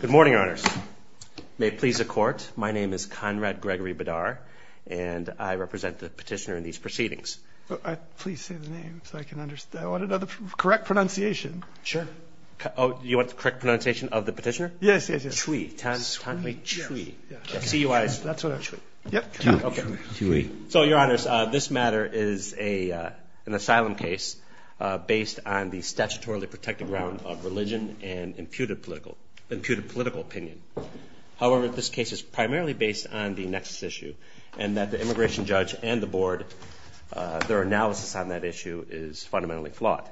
Good morning, Your Honors. May it please the Court, my name is Conrad Gregory Badar, and I represent the petitioner in these proceedings. Please say the name so I can understand. I want a correct pronunciation. Sure. Oh, you want the correct pronunciation of the petitioner? Yes, yes, yes. Cui, Tanhai Cui. Yes, yes. C-U-I-S-E. That's what I said. Yep. Okay. So, Your Honors, this matter is an asylum case based on the statutorily protected grounds of religion and imputed political opinion. However, this case is primarily based on the nexus issue, and that the immigration judge and the Board, their analysis on that issue is fundamentally flawed.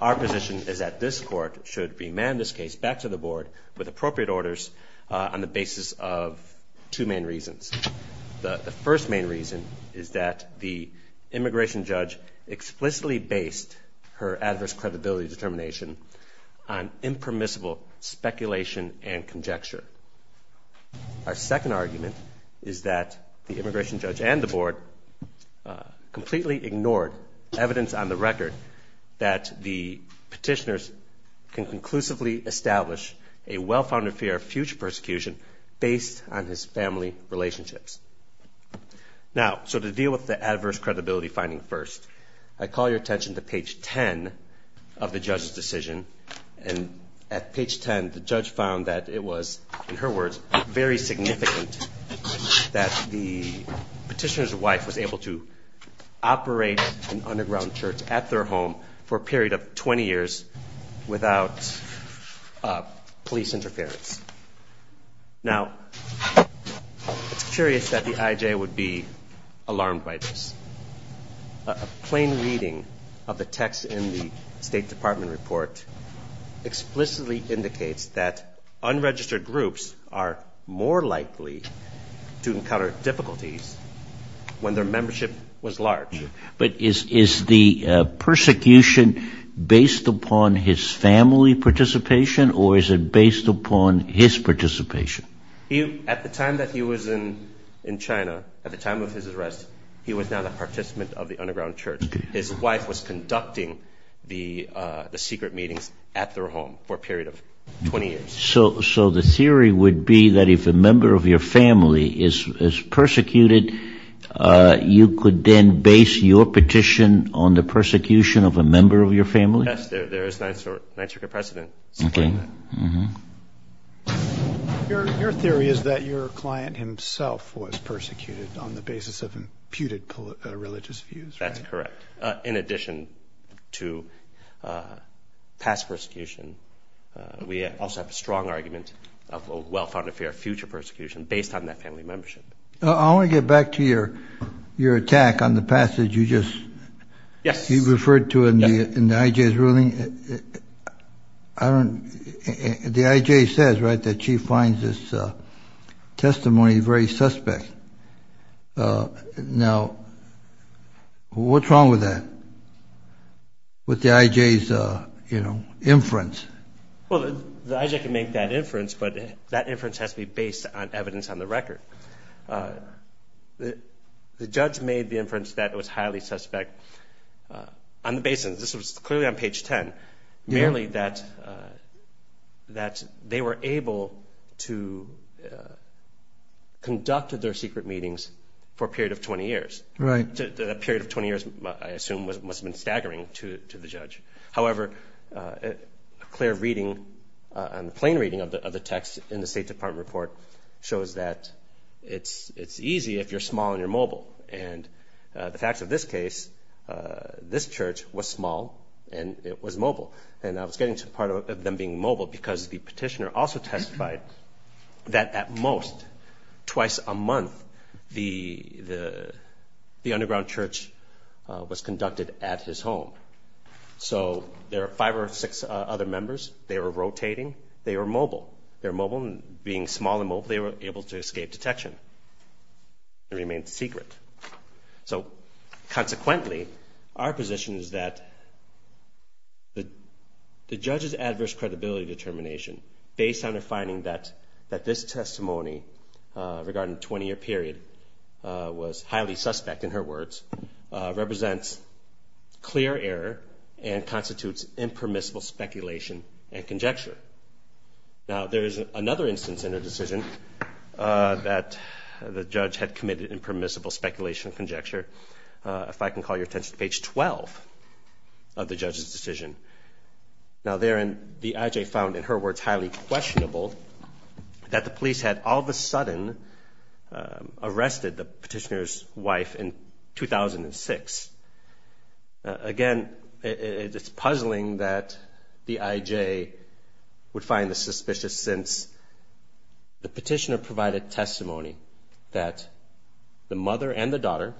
Our position is that this Court should remand this case back to the Board with appropriate orders on the basis of two main reasons. The first main reason is that the immigration judge explicitly based her adverse credibility determination on impermissible speculation and conjecture. Our second argument is that the immigration judge and the Board completely ignored evidence on the record that the petitioners can conclusively establish a well-founded fear of future persecution based on his family relationships. Now, so to deal with the adverse credibility finding first, I call your attention to page 10 of the judge's decision. And at page 10, the judge found that it was, in her words, very significant that the petitioner's wife was able to operate an underground church at their home for a period of 20 years without police interference. Now, it's curious that the IJ would be alarmed by this. A plain reading of the text in the State Department report explicitly indicates that unregistered groups are more likely to encounter difficulties when their membership was large. But is the persecution based upon his family participation or is it based upon his participation? At the time that he was in China, at the time of his arrest, he was not a participant of the underground church. His wife was conducting the secret meetings at their home for a period of 20 years. So the theory would be that if a member of your family is persecuted, you could then base your petition on the persecution of a member of your family? Yes, there is an answer to your precedent. Your theory is that your client himself was persecuted on the basis of imputed religious views, right? That's correct. In addition to past persecution, we also have a strong argument of a well-founded fear of future persecution based on that family membership. I want to get back to your attack on the passage you just referred to in the IJ's ruling. The IJ says, right, that she finds this testimony very suspect. Now, what's wrong with that, with the IJ's inference? Well, the IJ can make that inference, but that inference has to be based on evidence on the record. The judge made the inference that it was highly suspect on the basis, this was clearly on page 10, merely that they were able to conduct their secret meetings for a period of 20 years. That period of 20 years, I assume, must have been staggering to the judge. However, a clear reading, a plain reading of the text in the State Department report shows that it's easy if you're small and you're mobile. And the facts of this case, this church was small and it was mobile. And I was getting to the part of them being mobile because the petitioner also testified that at most twice a month the underground church was conducted at his home. So there were five or six other members. They were rotating. They were mobile. They were mobile. And being small and mobile, they were able to escape detection and remain secret. So consequently, our position is that the judge's adverse credibility determination, based on the finding that this testimony regarding a 20-year period was highly suspect, in her words, represents clear error and constitutes impermissible speculation and conjecture. Now, there is another instance in a decision that the judge had committed impermissible speculation and conjecture. If I can call your attention to page 12 of the judge's decision. Now, therein, the IJ found, in her words, highly questionable that the police had all of a sudden arrested the petitioner's wife in 2006. Again, it's puzzling that the IJ would find this suspicious since the petitioner provided testimony that the mother and the daughter,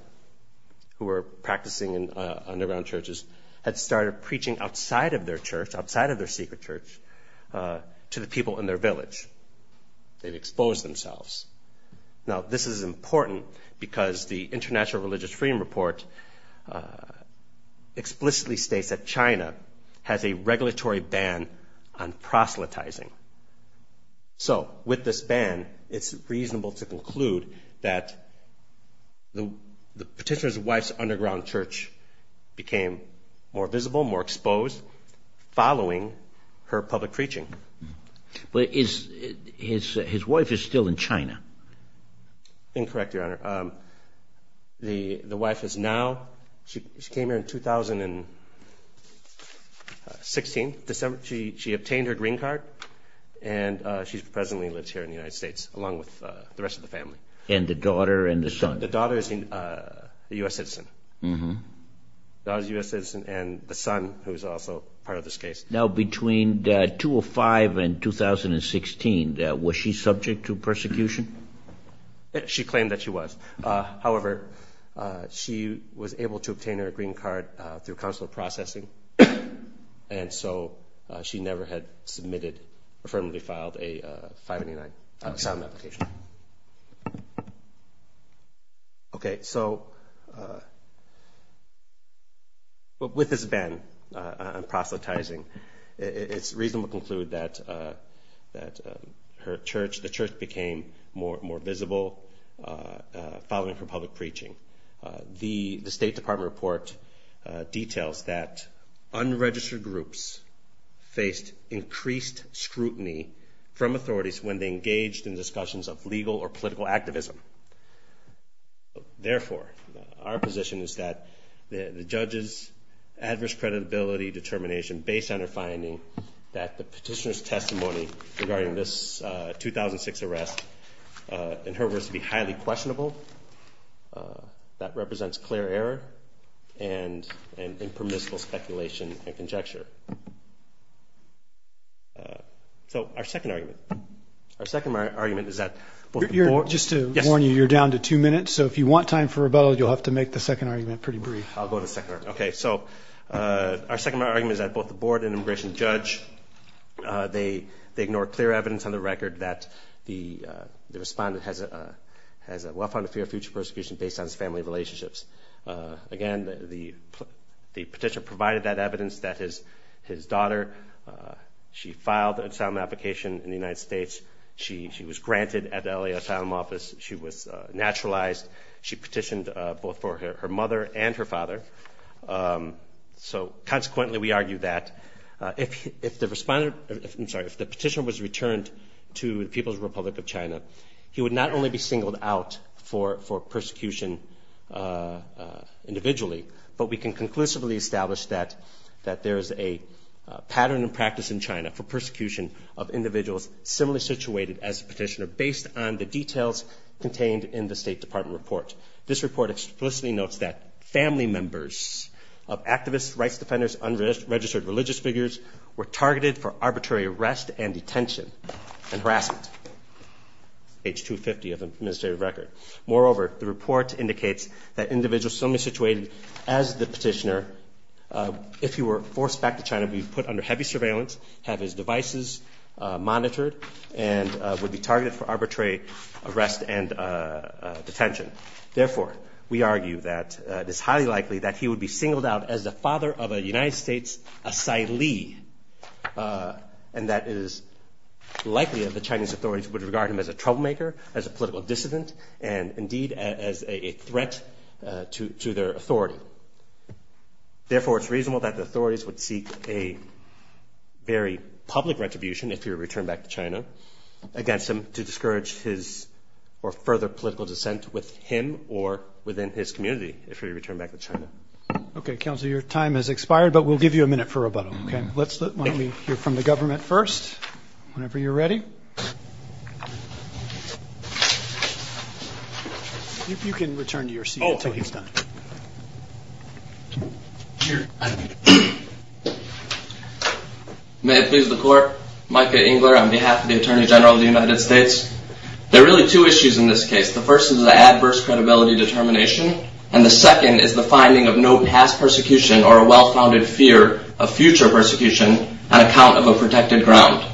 who were practicing in underground churches, had started preaching outside of their church, outside of their secret church, to the people in their village. They'd exposed themselves. Now, this is important because the International Religious Freedom Report explicitly states that China has a regulatory ban on proselytizing. So, with this ban, it's reasonable to conclude that the petitioner's wife's underground church became more visible, more exposed, following her public preaching. But his wife is still in China. Incorrect, Your Honor. The wife is now – she came here in 2016. She obtained her green card and she presently lives here in the United States along with the rest of the family. And the daughter and the son. The daughter is a U.S. citizen. The daughter is a U.S. citizen and the son, who is also part of this case. Now, between 205 and 2016, was she subject to persecution? She claimed that she was. However, she was able to obtain her green card through consular processing, and so she never had submitted – affirmatively filed a 509 asylum application. Okay. So, with this ban on proselytizing, it's reasonable to conclude that her church – the church became more visible following her public preaching. The State Department report details that unregistered groups faced increased scrutiny from authorities when they engaged in discussions of legal or political activism. Therefore, our position is that the judge's adverse credibility determination based on her finding that the petitioner's testimony regarding this 2006 arrest, in her words, would be highly questionable. That represents clear error and impermissible speculation and conjecture. So, our second argument. Our second argument is that – Just to warn you, you're down to two minutes. So, if you want time for rebuttal, you'll have to make the second argument pretty brief. I'll go to the second argument. Okay. So, our second argument is that both the board and immigration judge, they ignored clear evidence on the record that the respondent has a well-founded fear of future persecution based on his family relationships. Again, the petitioner provided that evidence that his daughter, she filed an asylum application in the United States. She was granted an LA asylum office. She was naturalized. She petitioned both for her mother and her father. So, consequently, we argue that if the petitioner was returned to the People's Republic of China, he would not only be singled out for persecution individually, but we can conclusively establish that there is a pattern and practice in China for persecution of individuals similarly situated as the petitioner, based on the details contained in the State Department report. This report explicitly notes that family members of activists, rights defenders, unregistered religious figures were targeted for arbitrary arrest and detention and harassment. Age 250 of administrative record. Moreover, the report indicates that individuals similarly situated as the petitioner, if he were forced back to China, would be put under heavy surveillance, have his devices monitored, and would be targeted for arbitrary arrest and detention. Therefore, we argue that it is highly likely that he would be singled out as the father of a United States asylee, and that it is likely that the Chinese authorities would regard him as a troublemaker, as a political dissident, and indeed as a threat to their authority. Therefore, it's reasonable that the authorities would seek a very public retribution if he were returned back to China against him to discourage his or further political dissent with him or within his community, if he were returned back to China. Okay, Counselor, your time has expired, but we'll give you a minute for rebuttal. Okay, why don't we hear from the government first whenever you're ready. You can return to your seat until he's done. May it please the Court. Micah Engler on behalf of the Attorney General of the United States. There are really two issues in this case. The first is the adverse credibility determination, and the second is the finding of no past persecution or a well-founded fear of future persecution on account of a protected ground.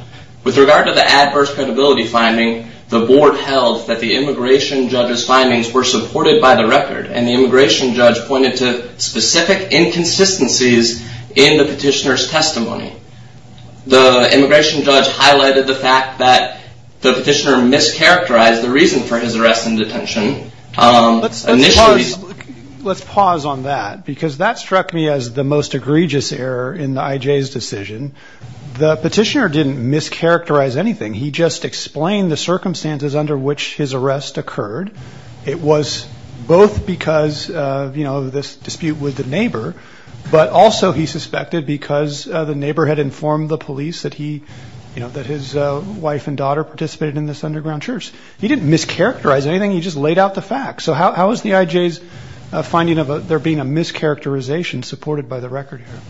With regard to the adverse credibility finding, the Board held that the immigration judge's findings were supported by the record, and the immigration judge pointed to specific inconsistencies in the petitioner's testimony. The immigration judge highlighted the fact that the petitioner mischaracterized the reason for his arrest and detention. Let's pause on that because that struck me as the most egregious error in the IJ's decision. The petitioner didn't mischaracterize anything. He just explained the circumstances under which his arrest occurred. It was both because of this dispute with the neighbor, but also he suspected because the neighbor had informed the police that his wife and daughter participated in this underground church. He didn't mischaracterize anything. He just laid out the facts. So how is the IJ's finding of there being a mischaracterization supported by the record here?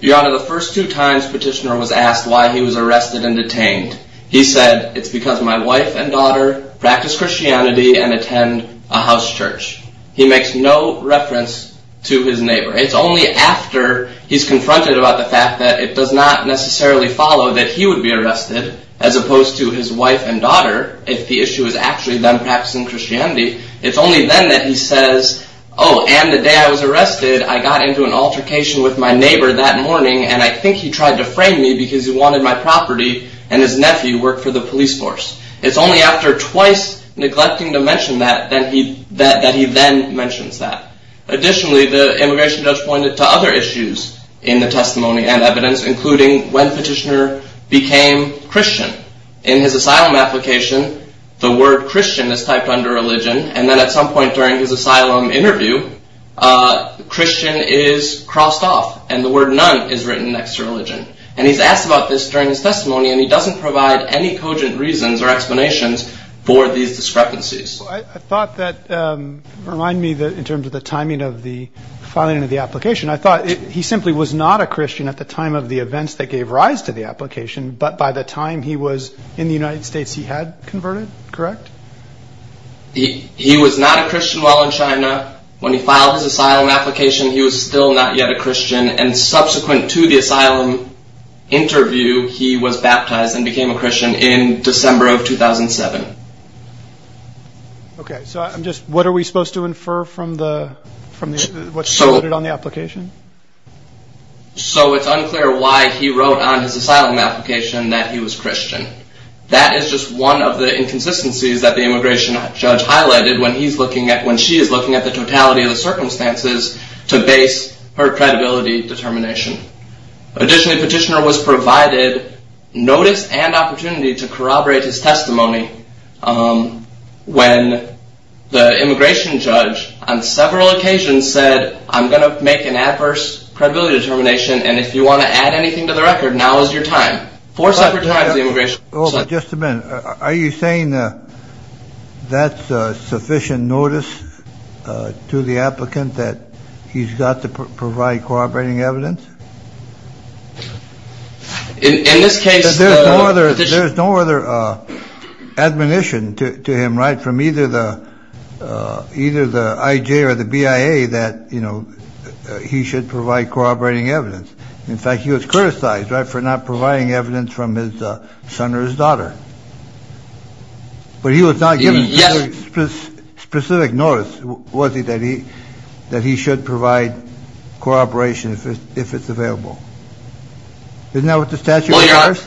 Your Honor, the first two times petitioner was asked why he was arrested and detained, he said it's because my wife and daughter practice Christianity and attend a house church. He makes no reference to his neighbor. It's only after he's confronted about the fact that it does not necessarily follow that he would be arrested, as opposed to his wife and daughter, if the issue is actually them practicing Christianity, it's only then that he says, oh, and the day I was arrested, I got into an altercation with my neighbor that morning and I think he tried to frame me because he wanted my property and his nephew worked for the police force. It's only after twice neglecting to mention that that he then mentions that. Additionally, the immigration judge pointed to other issues in the testimony and evidence, including when petitioner became Christian. In his asylum application, the word Christian is typed under religion, and then at some point during his asylum interview, Christian is crossed off and the word none is written next to religion. And he's asked about this during his testimony, and he doesn't provide any cogent reasons or explanations for these discrepancies. I thought that, remind me that in terms of the timing of the filing of the application, I thought he simply was not a Christian at the time of the events that gave rise to the application, but by the time he was in the United States, he had converted, correct? He was not a Christian while in China. When he filed his asylum application, he was still not yet a Christian, and subsequent to the asylum interview, he was baptized and became a Christian in December of 2007. Okay, so what are we supposed to infer from what's noted on the application? So it's unclear why he wrote on his asylum application that he was Christian. That is just one of the inconsistencies that the immigration judge highlighted when she is looking at the totality of the circumstances to base her credibility determination. Additionally, petitioner was provided notice and opportunity to corroborate his testimony when the immigration judge on several occasions said, I'm going to make an adverse credibility determination, and if you want to add anything to the record, now is your time. Four separate times the immigration judge. Just a minute. Are you saying that's sufficient notice to the applicant that he's got to provide corroborating evidence? In this case... There's no other admonition to him, right, from either the IJ or the BIA that he should provide corroborating evidence. In fact, he was criticized for not providing evidence from his son or his daughter. But he was not given specific notice, was he, that he should provide corroboration if it's available? Isn't that what the statute requires?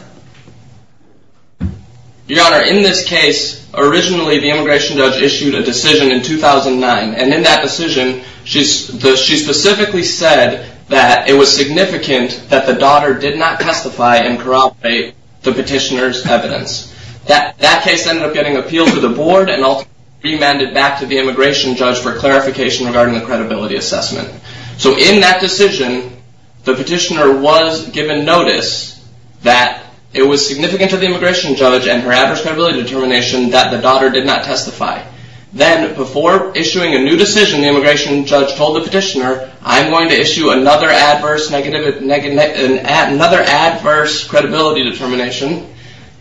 Your Honor, in this case, originally the immigration judge issued a decision in 2009, and in that decision she specifically said that it was significant that the daughter did not testify and corroborate the petitioner's evidence. That case ended up getting appealed to the board and ultimately remanded back to the immigration judge for clarification regarding the credibility assessment. So in that decision, the petitioner was given notice that it was significant to the immigration judge and her adverse credibility determination that the daughter did not testify. Then before issuing a new decision, the immigration judge told the petitioner, I'm going to issue another adverse credibility determination,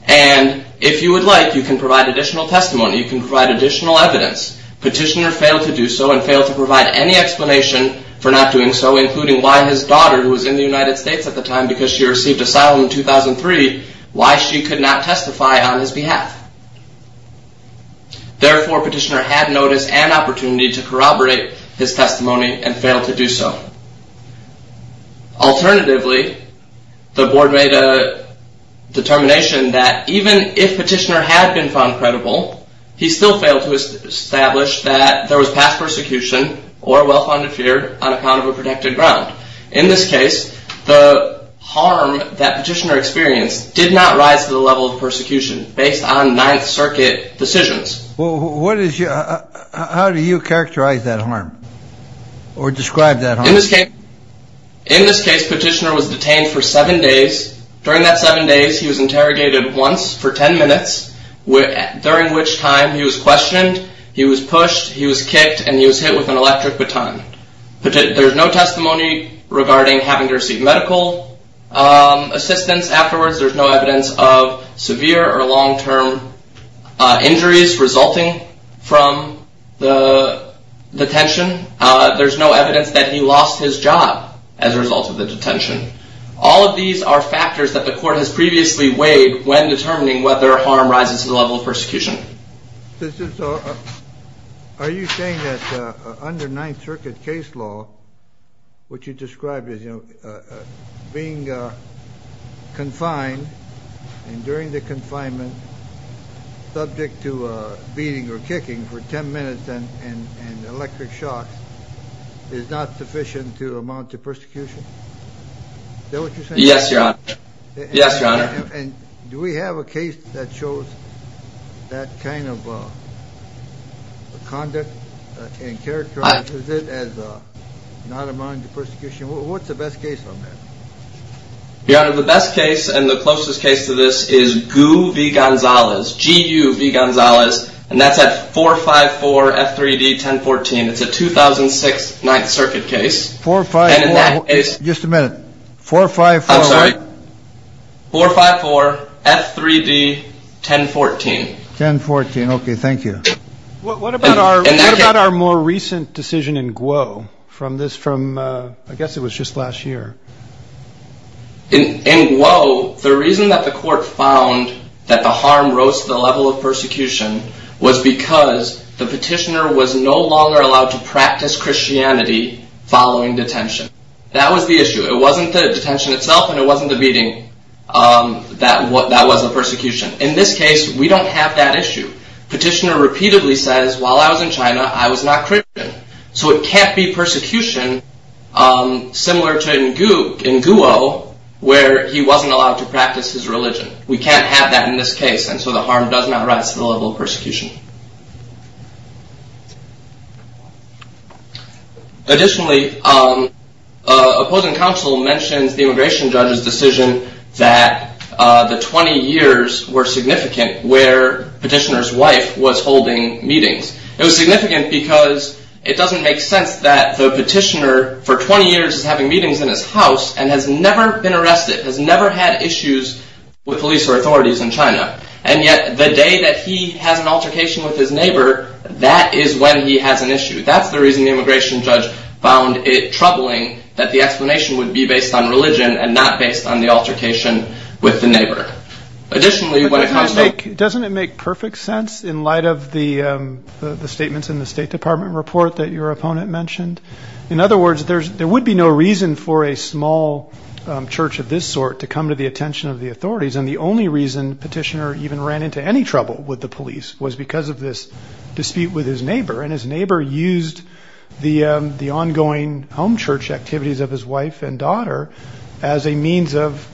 and if you would like, you can provide additional testimony, you can provide additional evidence. Petitioner failed to do so and failed to provide any explanation for not doing so, including why his daughter, who was in the United States at the time because she received asylum in 2003, why she could not testify on his behalf. Therefore, petitioner had notice and opportunity to corroborate his testimony and failed to do so. Alternatively, the board made a determination that even if petitioner had been found credible, he still failed to establish that there was past persecution or well-founded fear on account of a protected ground. In this case, the harm that petitioner experienced did not rise to the level of persecution based on Ninth Circuit decisions. How do you characterize that harm or describe that harm? In this case, petitioner was detained for seven days. During that seven days, he was interrogated once for ten minutes, during which time he was questioned, he was pushed, he was kicked, and he was hit with an electric baton. There's no testimony regarding having to receive medical assistance afterwards. There's no evidence of severe or long-term injuries resulting from the detention. There's no evidence that he lost his job as a result of the detention. All of these are factors that the court has previously weighed when determining whether harm rises to the level of persecution. Are you saying that under Ninth Circuit case law, what you described as being confined, and during the confinement, subject to beating or kicking for ten minutes and electric shock, is not sufficient to amount to persecution? Is that what you're saying? Yes, Your Honor. Yes, Your Honor. Do we have a case that shows that kind of conduct and characterizes it as not amounting to persecution? What's the best case on that? Your Honor, the best case and the closest case to this is Gu v. Gonzalez, G-U v. Gonzalez, and that's at 454 F3D 1014. It's a 2006 Ninth Circuit case. Just a minute. 454? I'm sorry? 454 F3D 1014. 1014, okay, thank you. What about our more recent decision in Guo from this, from, I guess it was just last year? In Guo, the reason that the court found that the harm rose to the level of persecution was because the petitioner was no longer allowed to practice Christianity following detention. That was the issue. It wasn't the detention itself, and it wasn't the beating. That was the persecution. In this case, we don't have that issue. Petitioner repeatedly says, while I was in China, I was not Christian. So it can't be persecution similar to in Guo where he wasn't allowed to practice his religion. We can't have that in this case, and so the harm does not rise to the level of persecution. Additionally, opposing counsel mentions the immigration judge's decision that the 20 years were significant where petitioner's wife was holding meetings. It was significant because it doesn't make sense that the petitioner for 20 years is having meetings in his house and has never been arrested, has never had issues with police or authorities in China. And yet the day that he has an altercation with his neighbor, that is when he has an issue. That's the reason the immigration judge found it troubling that the explanation would be based on religion and not based on the altercation with the neighbor. Additionally, what it comes to- Doesn't it make perfect sense in light of the statements in the State Department report that your opponent mentioned? In other words, there would be no reason for a small church of this sort to come to the attention of the authorities, and the only reason petitioner even ran into any trouble with the police was because of this dispute with his neighbor. And his neighbor used the ongoing home church activities of his wife and daughter as a means of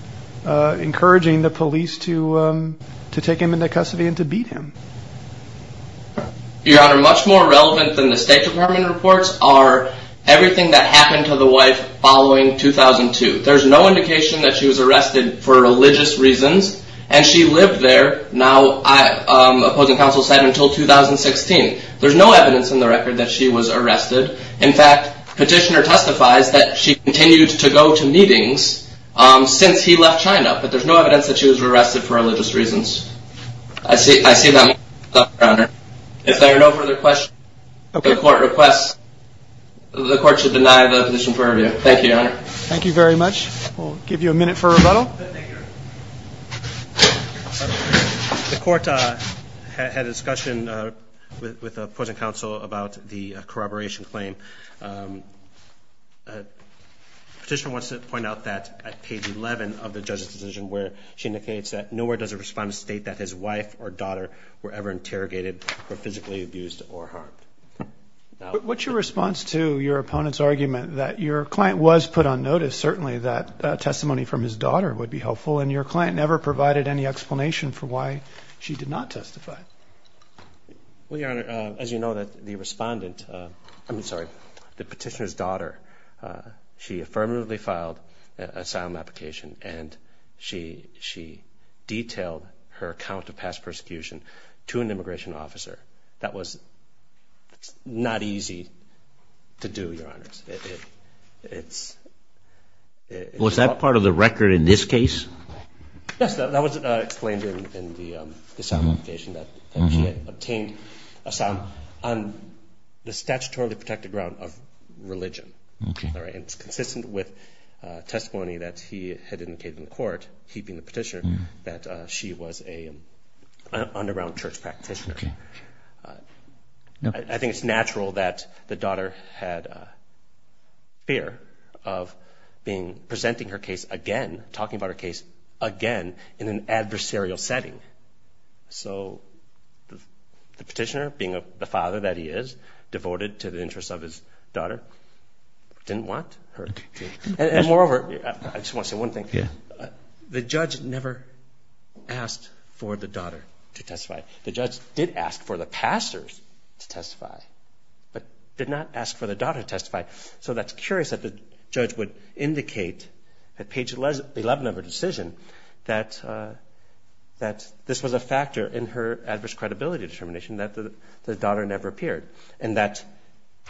encouraging the police to take him into custody and to beat him. Your Honor, much more relevant than the State Department reports are everything that happened to the wife following 2002. There's no indication that she was arrested for religious reasons, and she lived there now, opposing counsel said, until 2016. There's no evidence in the record that she was arrested. In fact, petitioner testifies that she continued to go to meetings since he left China, but there's no evidence that she was arrested for religious reasons. I see that- If there are no further questions, the court should deny the petition for review. Thank you, Your Honor. Thank you very much. We'll give you a minute for rebuttal. The court had a discussion with opposing counsel about the corroboration claim. Petitioner wants to point out that at page 11 of the judge's decision, where she indicates that nowhere does it respond to state that his wife or daughter were ever interrogated or physically abused or harmed. What's your response to your opponent's argument that your client was put on notice, certainly that testimony from his daughter would be helpful, and your client never provided any explanation for why she did not testify? Well, Your Honor, as you know, the respondent, I'm sorry, the petitioner's daughter, she affirmatively filed an asylum application, and she detailed her account of past persecution to an immigration officer. That was not easy to do, Your Honor. Was that part of the record in this case? Yes, that was explained in the asylum application that she had obtained asylum on the statutorily protected ground of religion. It's consistent with testimony that he had indicated in court, he being the petitioner, that she was an underground church practitioner. I think it's natural that the daughter had fear of presenting her case again, talking about her case again in an adversarial setting. So the petitioner, being the father that he is, devoted to the interests of his daughter, didn't want her to. And moreover, I just want to say one thing. The judge never asked for the daughter to testify. The judge did ask for the pastors to testify, but did not ask for the daughter to testify. So that's curious that the judge would indicate at page 11 of her decision that this was a factor in her adverse credibility determination, that the daughter never appeared, and that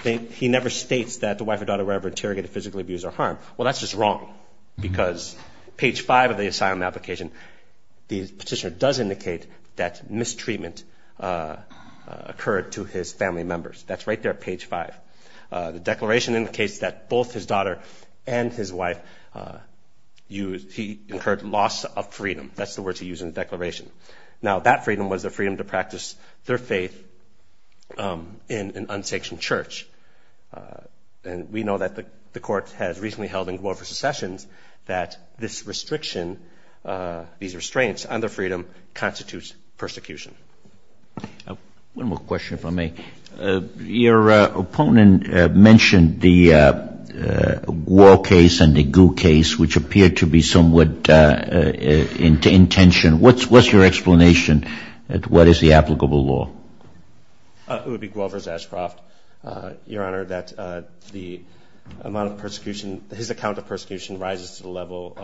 he never states that the wife or daughter were ever interrogated, physically abused, or harmed. Well, that's just wrong because page 5 of the asylum application, the petitioner does indicate that mistreatment occurred to his family members. That's right there at page 5. The declaration indicates that both his daughter and his wife, he incurred loss of freedom. That's the words he used in the declaration. Now, that freedom was the freedom to practice their faith in an unsectioned church. And we know that the court has recently held in Guelph versus Sessions that this restriction, these restraints on their freedom constitutes persecution. One more question, if I may. Your opponent mentioned the Guo case and the Gu case, which appeared to be somewhat in tension. What's your explanation as to what is the applicable law? It would be Guelph versus Ashcroft, Your Honor, that the amount of persecution, his account of persecution rises to the level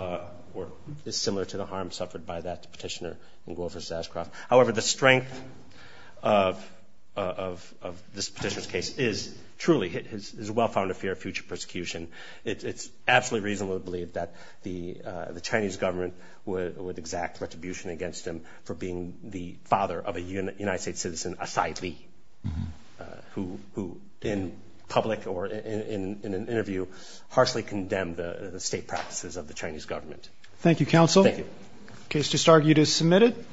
or is similar to the harm suffered by that petitioner in Guelph versus Ashcroft. However, the strength of this petitioner's case is truly his well-founded fear of future persecution. It's absolutely reasonable to believe that the Chinese government would exact retribution against him for being the father of a United States citizen, a sidely, who in public or in an interview harshly condemned the state practices of the Chinese government. Thank you, Counsel. Thank you. The case just argued is submitted.